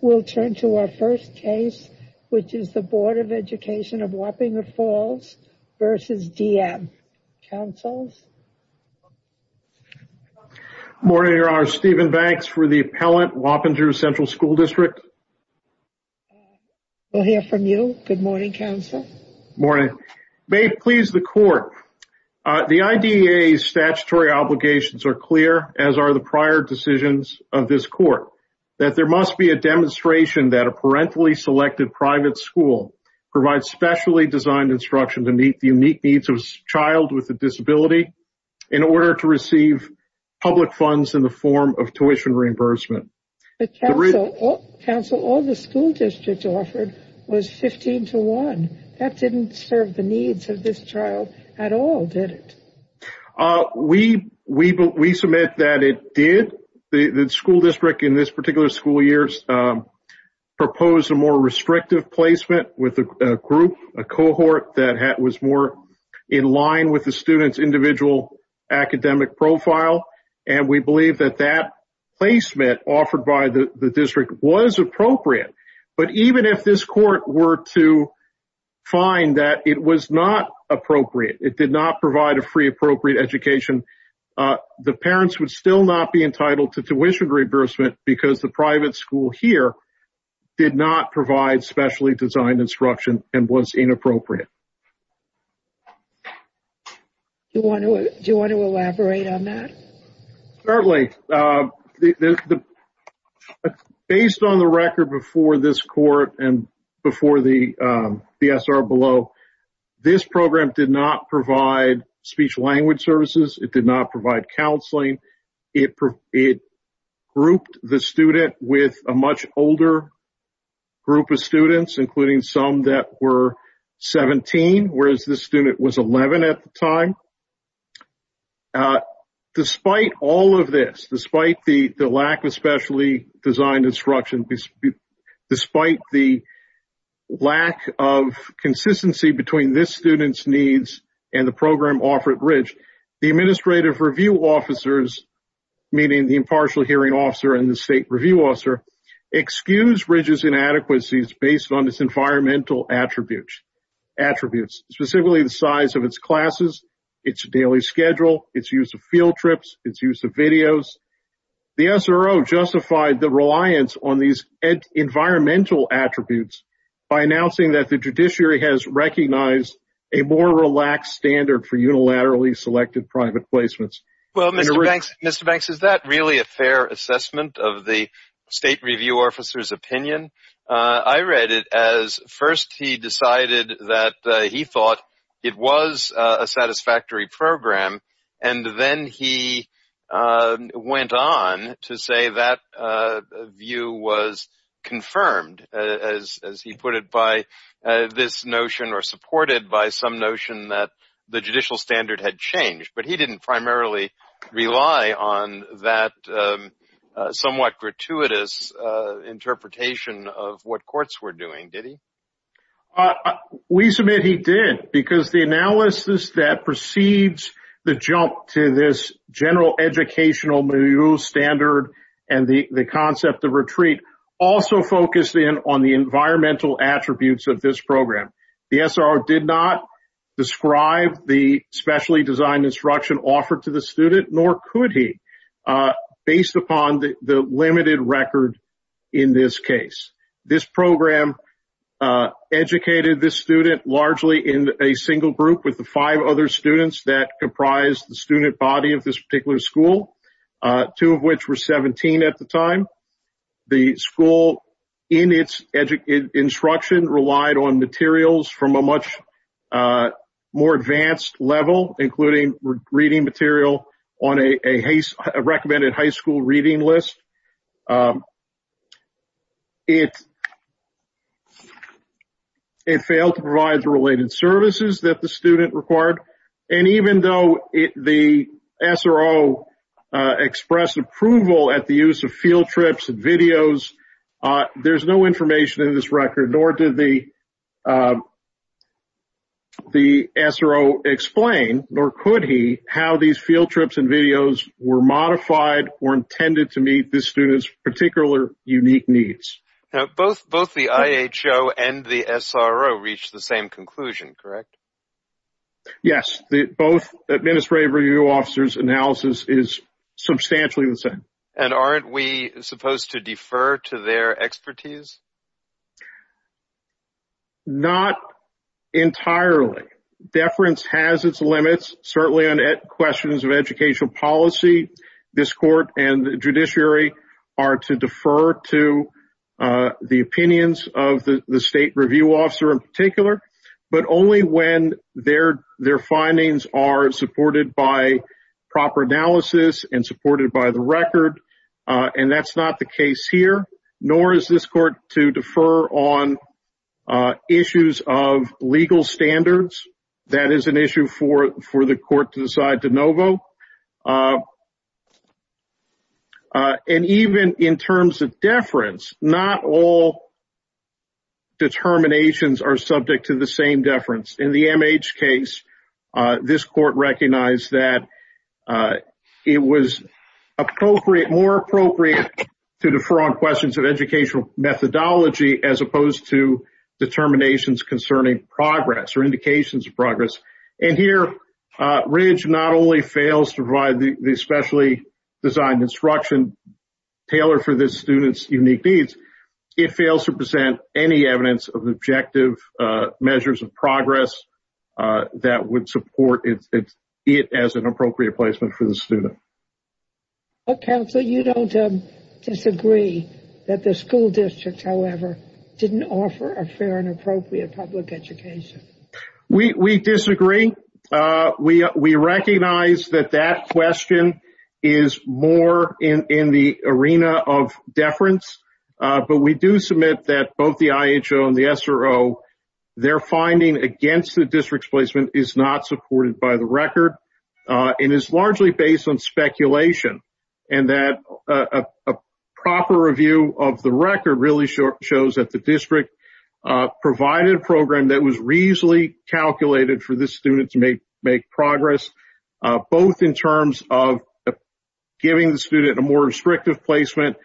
We'll turn to our first case, which is the Board of Education of Wappinger Falls v. D.M. Counsels? Good morning, Your Honor, Stephen Banks for the appellant, Wappinger Central School District. We'll hear from you, good morning, Counsel. Morning. May it please the Court, the IDEA's statutory obligations are clear, as are the prior decisions of this Court, that there must be a demonstration that a parentally selected private school provides specially designed instruction to meet the unique needs of a child with a disability in order to receive public funds in the form of tuition reimbursement. But, Counsel, all the school districts offered was 15 to 1. That didn't serve the needs of this child at all, did it? We submit that it did. The school district in this particular school year proposed a more restrictive placement with a group, a cohort that was more in line with the student's individual academic profile, and we believe that that placement offered by the district was appropriate. But even if this Court were to find that it was not appropriate, it did not provide a free appropriate education, the parents would still not be entitled to tuition reimbursement because the private school here did not provide specially designed instruction and was inappropriate. Do you want to elaborate on that? Certainly. Based on the record before this Court and before the DSR below, this program did not provide speech-language services. It did not provide counseling. It grouped the student with a much older group of students, including some that were 17, whereas this student was 11 at the time. Despite all of this, despite the lack of specially designed instruction, despite the lack of consistency between this student's needs and the program offered at Ridge, the administrative review officers, meaning the impartial hearing officer and the state review officer, excused Ridge's inadequacies based on its environmental attributes, specifically the size of its classes, its daily schedule, its use of field trips, its use of videos. The SRO justified the reliance on these environmental attributes by announcing that the judiciary has recognized a more relaxed standard for unilaterally selected private placements. Mr. Banks, is that really a fair assessment of the state review officer's opinion? I read it as first he decided that he thought it was a satisfactory program, and then he went on to say that view was confirmed, as he put it, by this notion or supported by some notion that the judicial standard had changed. But he didn't primarily rely on that somewhat gratuitous interpretation of what courts were doing, did he? We submit he did, because the analysis that precedes the jump to this general educational standard and the concept of retreat also focused in on the environmental attributes of this program. The SRO did not describe the specially designed instruction offered to the student, nor could he, based upon the limited record in this case. This program educated this student largely in a single group with the five other students that comprised the student body of this particular school, two of which were 17 at the time. The school, in its instruction, relied on materials from a much more advanced level, including reading material on a recommended high school reading list. It failed to provide the related services that the student required. And even though the SRO expressed approval at the use of field trips and videos, there's no information in this record, nor did the SRO explain, nor could he, how these field trips and videos were modified or intended to meet this student's particular unique needs. Now, both the IHO and the SRO reached the same conclusion, correct? Yes, both administrative review officers' analysis is substantially the same. And aren't we supposed to defer to their expertise? Not entirely. Deference has its limits, certainly on questions of educational policy. This court and the judiciary are to defer to the opinions of the state review officer in particular, but only when their findings are supported by proper analysis and supported by the record. And that's not the case here, nor is this court to defer on issues of legal standards. That is an issue for the court to decide de novo. And even in terms of deference, not all determinations are subject to the same deference. In the MH case, this court recognized that it was more appropriate to defer on questions of educational methodology as opposed to determinations concerning progress or indications of progress. And here, Ridge not only fails to provide the specially designed instruction tailored for this student's unique needs, it fails to present any evidence of objective measures of progress that would support it as an appropriate placement for the student. Counsel, you don't disagree that the school districts, however, didn't offer a fair and appropriate public education. We disagree. We recognize that that question is more in the arena of deference. But we do submit that both the IHO and the SRO, their finding against the district's placement is not supported by the record. It is largely based on speculation and that a proper review of the record really shows that the district provided a program that was reasonably calculated for this student to make progress, both in terms of giving the student a more restrictive placement,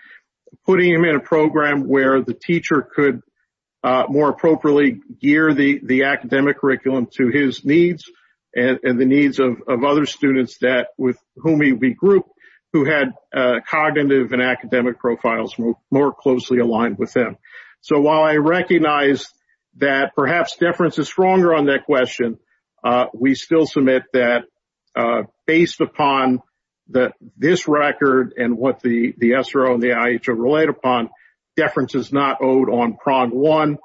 putting him in a program where the teacher could more appropriately gear the academic curriculum to his needs and the needs of other students with whom he regrouped who had cognitive and academic profiles more closely aligned with him. So while I recognize that perhaps deference is stronger on that question, we still submit that based upon this record and what the SRO and the IHO relate upon, deference is not owed on prong one,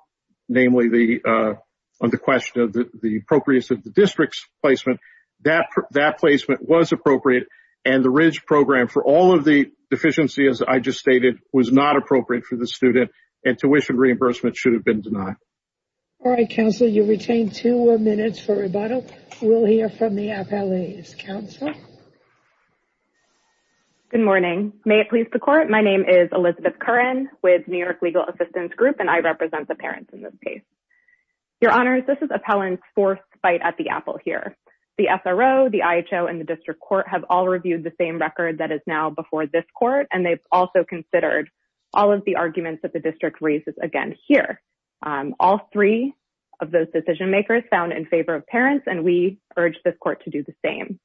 namely the question of the appropriateness of the district's placement. That placement was appropriate. And the Ridge program, for all of the deficiencies I just stated, was not appropriate for the student. And tuition reimbursement should have been denied. All right, Counselor, you retain two more minutes for rebuttal. We'll hear from the appellees. Counselor? Good morning. May it please the Court, my name is Elizabeth Curran with New York Legal Assistance Group and I represent the parents in this case. Your Honors, this is appellant's fourth fight at the apple here. The SRO, the IHO and the district court have all reviewed the same record that is now before this court and they've also considered all of the arguments that the district raises again here. All three of those decision makers found in favor of parents and we urge this court to do the same.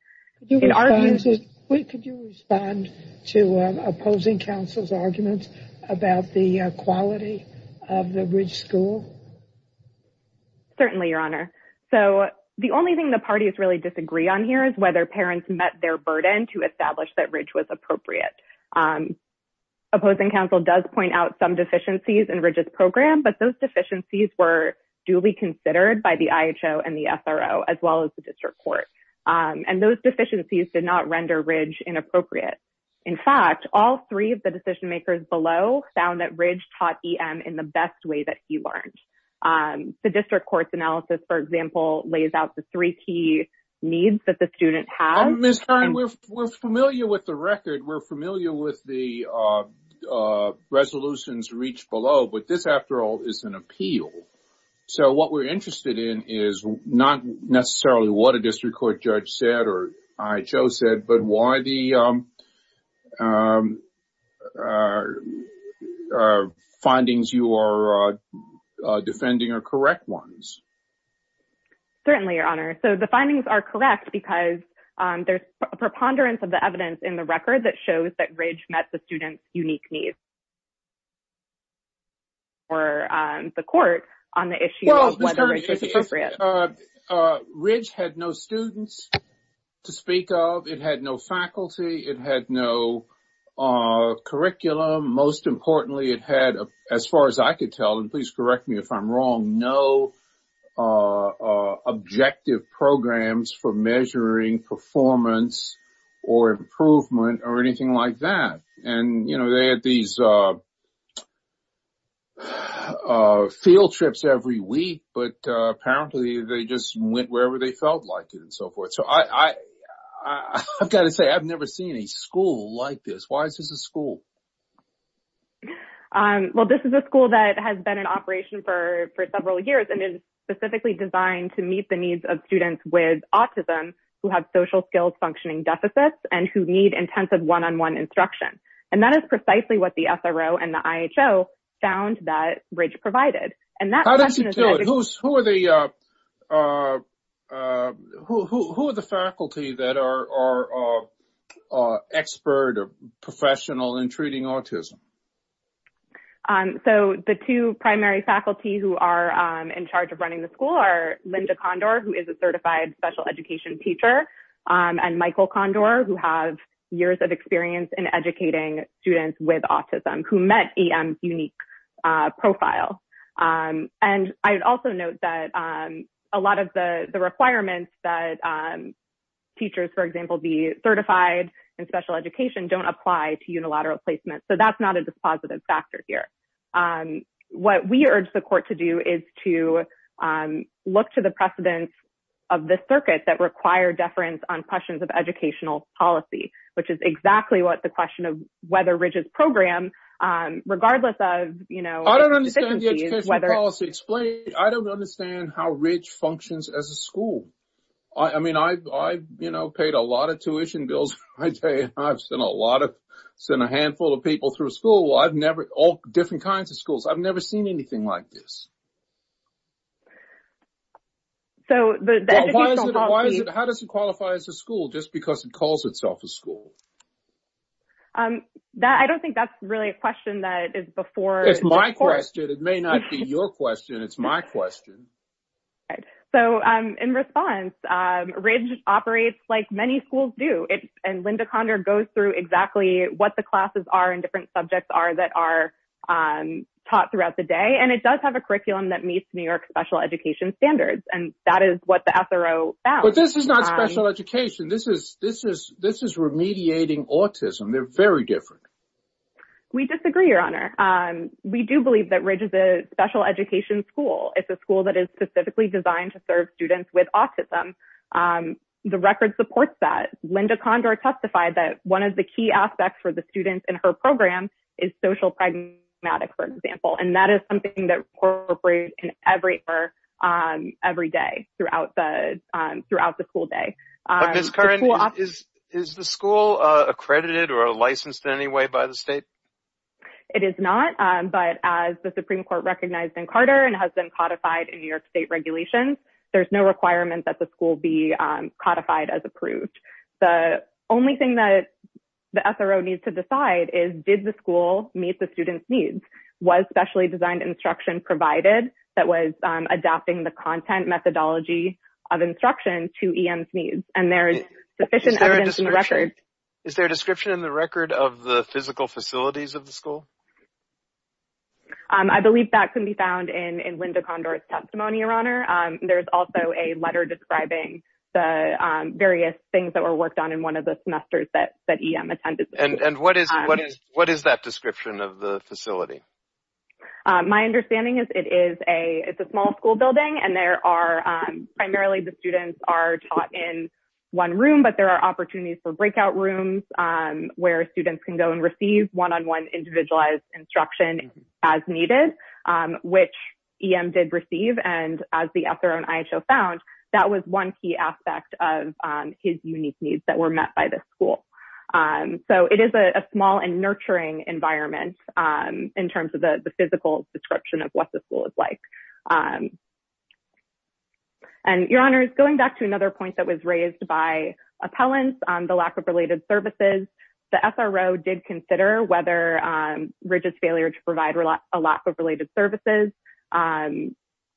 Could you respond to opposing counsel's arguments about the quality of the Ridge school? Certainly, Your Honor. So the only thing the parties really disagree on here is whether parents met their burden to establish that Ridge was appropriate. Opposing counsel does point out some deficiencies in Ridge's program, but those deficiencies were duly considered by the IHO and the SRO, as well as the district court. And those deficiencies did not render Ridge inappropriate. In fact, all three of the decision makers below found that Ridge taught EM in the best way that he learned. The district court's analysis, for example, lays out the three key needs that the student has. Ms. Curran, we're familiar with the record. We're familiar with the resolutions reached below, but this, after all, is an appeal. So what we're interested in is not necessarily what a district court judge said or IHO said, but why the findings you are defending are correct ones. Certainly, Your Honor. So the findings are correct because there's a preponderance of the evidence in the record that shows that Ridge met the student's unique needs. Or the court on the issue of whether Ridge was appropriate. Well, Ms. Curran, Ridge had no students to speak of. It had no faculty. It had no curriculum. Most importantly, it had, as far as I could tell, and please correct me if I'm wrong, no objective programs for measuring performance or improvement or anything like that. And, you know, they had these field trips every week, but apparently they just went wherever they felt like it and so forth. So I've got to say, I've never seen a school like this. Why is this a school? Well, this is a school that has been in operation for several years and is specifically designed to meet the needs of students with autism who have social skills functioning deficits and who need intensive one-on-one instruction. And that is precisely what the SRO and the IHO found that Ridge provided. How does it do it? Who are the faculty that are expert or professional in treating autism? So the two primary faculty who are in charge of running the school are Linda Condor, who is a certified special education teacher, and Michael Condor, who has years of experience in educating students with autism, who met EM's unique profile. And I would also note that a lot of the requirements that teachers, for example, be certified in special education, don't apply to unilateral placement. So that's not a dispositive factor here. What we urge the court to do is to look to the precedents of the circuit that require deference on questions of educational policy, which is exactly what the question of whether Ridge's program, regardless of, you know, I don't understand the education policy. I don't understand how Ridge functions as a school. I mean, I've, you know, paid a lot of tuition bills. I've sent a lot of, sent a handful of people through school. I've never, all different kinds of schools. I've never seen anything like this. So the education policy. How does it qualify as a school just because it calls itself a school? That, I don't think that's really a question that is before. It's my question. It may not be your question. It's my question. So in response, Ridge operates like many schools do. And Linda Conner goes through exactly what the classes are and different subjects are that are taught throughout the day. And it does have a curriculum that meets New York special education standards. And that is what the SRO found. But this is not special education. This is, this is, this is remediating autism. They're very different. We disagree, Your Honor. We do believe that Ridge is a special education school. It's a school that is specifically designed to serve students with autism. The record supports that. Linda Condor testified that one of the key aspects for the students in her program is social pragmatic, for example. And that is something that incorporates in every, every day throughout the school day. Ms. Curran, is the school accredited or licensed in any way by the state? It is not. But as the Supreme Court recognized in Carter and has been codified in New York state regulations, there's no requirement that the school be codified as approved. The only thing that the SRO needs to decide is, did the school meet the students' needs? Was specially designed instruction provided that was adapting the content methodology of instruction to EM's needs? And there is sufficient evidence in the record. Is there a description in the record of the physical facilities of the school? I believe that can be found in Linda Condor's testimony, Your Honor. There's also a letter describing the various things that were worked on in one of the semesters that EM attended. And what is that description of the facility? My understanding is it is a it's a small school building and there are primarily the students are taught in one room. But there are opportunities for breakout rooms where students can go and receive one on one individualized instruction as needed, which EM did receive. And as the SRO and ISO found, that was one key aspect of his unique needs that were met by the school. So it is a small and nurturing environment in terms of the physical description of what the school is like. And Your Honor, going back to another point that was raised by appellants on the lack of related services, the SRO did consider whether Ridge's failure to provide a lack of related services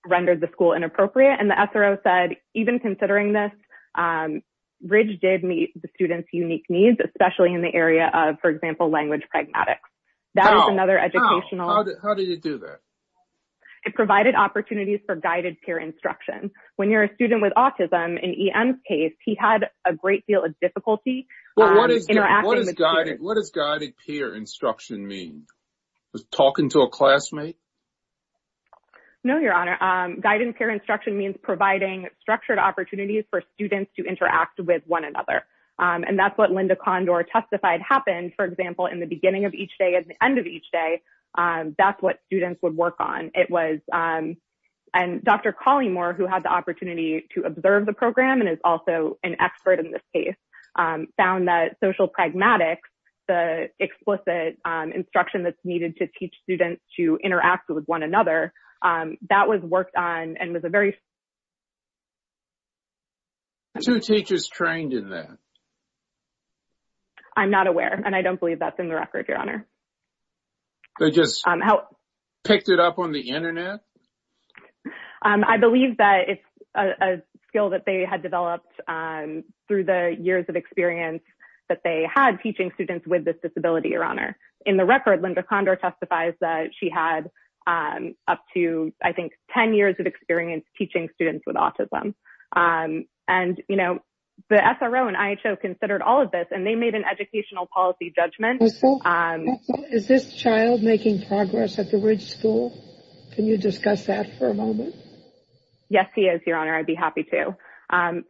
rendered the school inappropriate. And the SRO said, even considering this, Ridge did meet the students' unique needs, especially in the area of, for example, language pragmatics. How? How did it do that? It provided opportunities for guided peer instruction. When you're a student with autism, in EM's case, he had a great deal of difficulty. What does guided peer instruction mean? Is it talking to a classmate? No, Your Honor. Guided peer instruction means providing structured opportunities for students to interact with one another. And that's what Linda Condor testified happened, for example, in the beginning of each day at the end of each day. That's what students would work on. It was and Dr. Collymore, who had the opportunity to observe the program and is also an expert in this case, found that social pragmatics, the explicit instruction that's needed to teach students to interact with one another, that was worked on and was a very. Two teachers trained in that. I'm not aware, and I don't believe that's in the record, Your Honor. They just picked it up on the Internet? I believe that it's a skill that they had developed through the years of experience that they had teaching students with this disability, Your Honor. In the record, Linda Condor testifies that she had up to, I think, 10 years of experience teaching students with autism. And, you know, the SRO and ISO considered all of this and they made an educational policy judgment. Is this child making progress at the Ridge School? Can you discuss that for a moment? Yes, he is, Your Honor. I'd be happy to.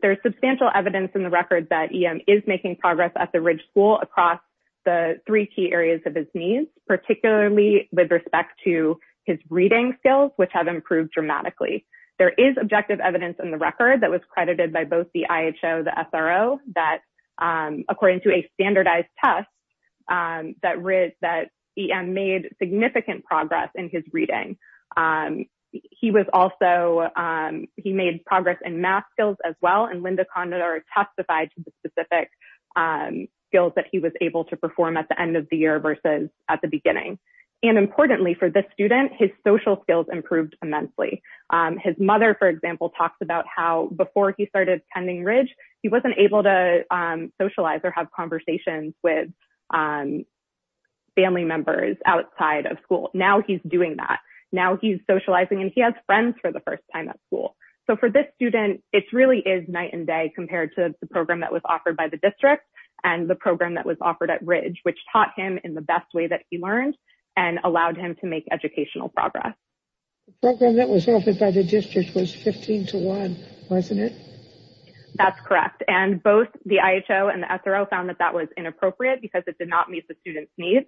There is substantial evidence in the record that he is making progress at the Ridge School across the three key areas of his needs, particularly with respect to his reading skills, which have improved dramatically. There is objective evidence in the record that was credited by both the IHO and the SRO that, according to a standardized test, that he made significant progress in his reading. He made progress in math skills as well, and Linda Condor testified to the specific skills that he was able to perform at the end of the year versus at the beginning. And importantly for this student, his social skills improved immensely. His mother, for example, talks about how before he started attending Ridge, he wasn't able to socialize or have conversations with family members outside of school. Now he's doing that. Now he's socializing and he has friends for the first time at school. So for this student, it really is night and day compared to the program that was offered by the district and the program that was offered at Ridge, which taught him in the best way that he learned. And allowed him to make educational progress. The program that was offered by the district was 15 to 1, wasn't it? That's correct. And both the IHO and the SRO found that that was inappropriate because it did not meet the student's needs.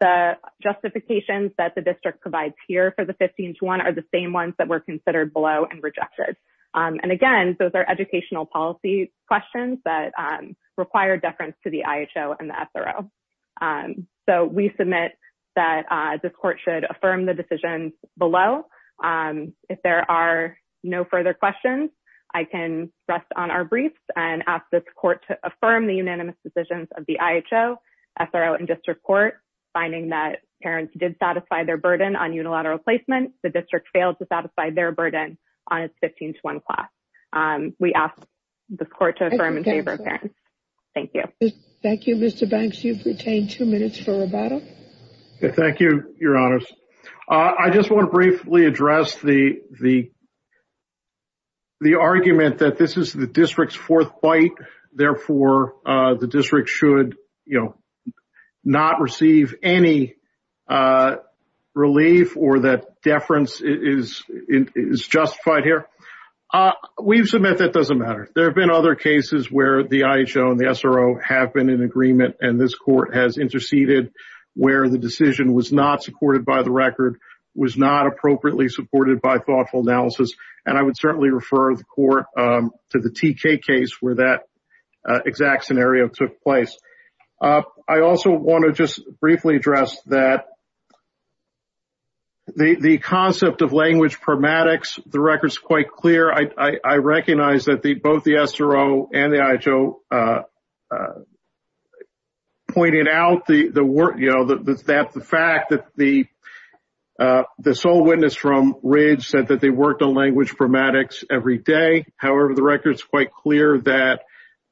The justifications that the district provides here for the 15 to 1 are the same ones that were considered below and rejected. And again, those are educational policy questions that require deference to the IHO and the SRO. So we submit that this court should affirm the decisions below. If there are no further questions, I can rest on our briefs and ask this court to affirm the unanimous decisions of the IHO, SRO, and district court, finding that parents did satisfy their burden on unilateral placement. The district failed to satisfy their burden on its 15 to 1 class. We ask this court to affirm in favor of parents. Thank you. Thank you, Mr. Banks. You've retained two minutes for rebuttal. Thank you, Your Honors. I just want to briefly address the argument that this is the district's fourth fight. Therefore, the district should not receive any relief or that deference is justified here. We've submitted that doesn't matter. There have been other cases where the IHO and the SRO have been in agreement and this court has interceded where the decision was not supported by the record, was not appropriately supported by thoughtful analysis. And I would certainly refer the court to the TK case where that exact scenario took place. I also want to just briefly address that. The concept of language pramatics, the record's quite clear. I recognize that both the SRO and the IHO pointed out the fact that the sole witness from Ridge said that they worked on language pramatics every day. However, the record is quite clear that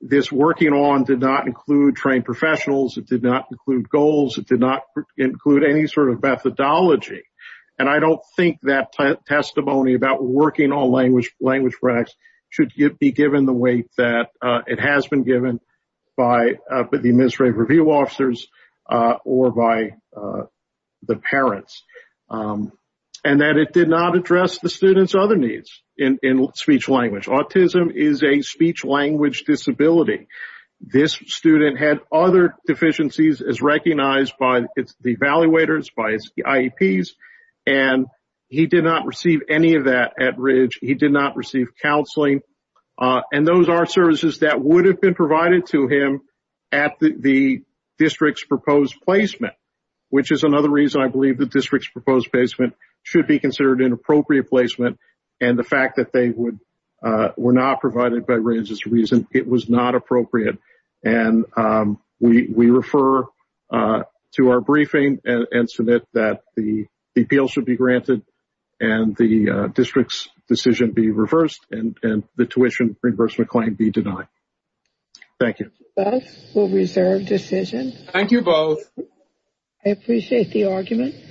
this working on did not include trained professionals. It did not include goals. It did not include any sort of methodology. And I don't think that testimony about working on language language pramatics should be given the weight that it has been given by the administrative review officers or by the parents. And that it did not address the student's other needs in speech language. Autism is a speech language disability. This student had other deficiencies as recognized by the evaluators, by IEPs, and he did not receive any of that at Ridge. He did not receive counseling. And those are services that would have been provided to him at the district's proposed placement, which is another reason I believe the district's proposed placement should be considered an appropriate placement. And the fact that they were not provided by Ridge's reason, it was not appropriate. And we refer to our briefing and submit that the appeals should be granted and the district's decision be reversed and the tuition reimbursement claim be denied. Thank you. Thank you both. I appreciate the argument.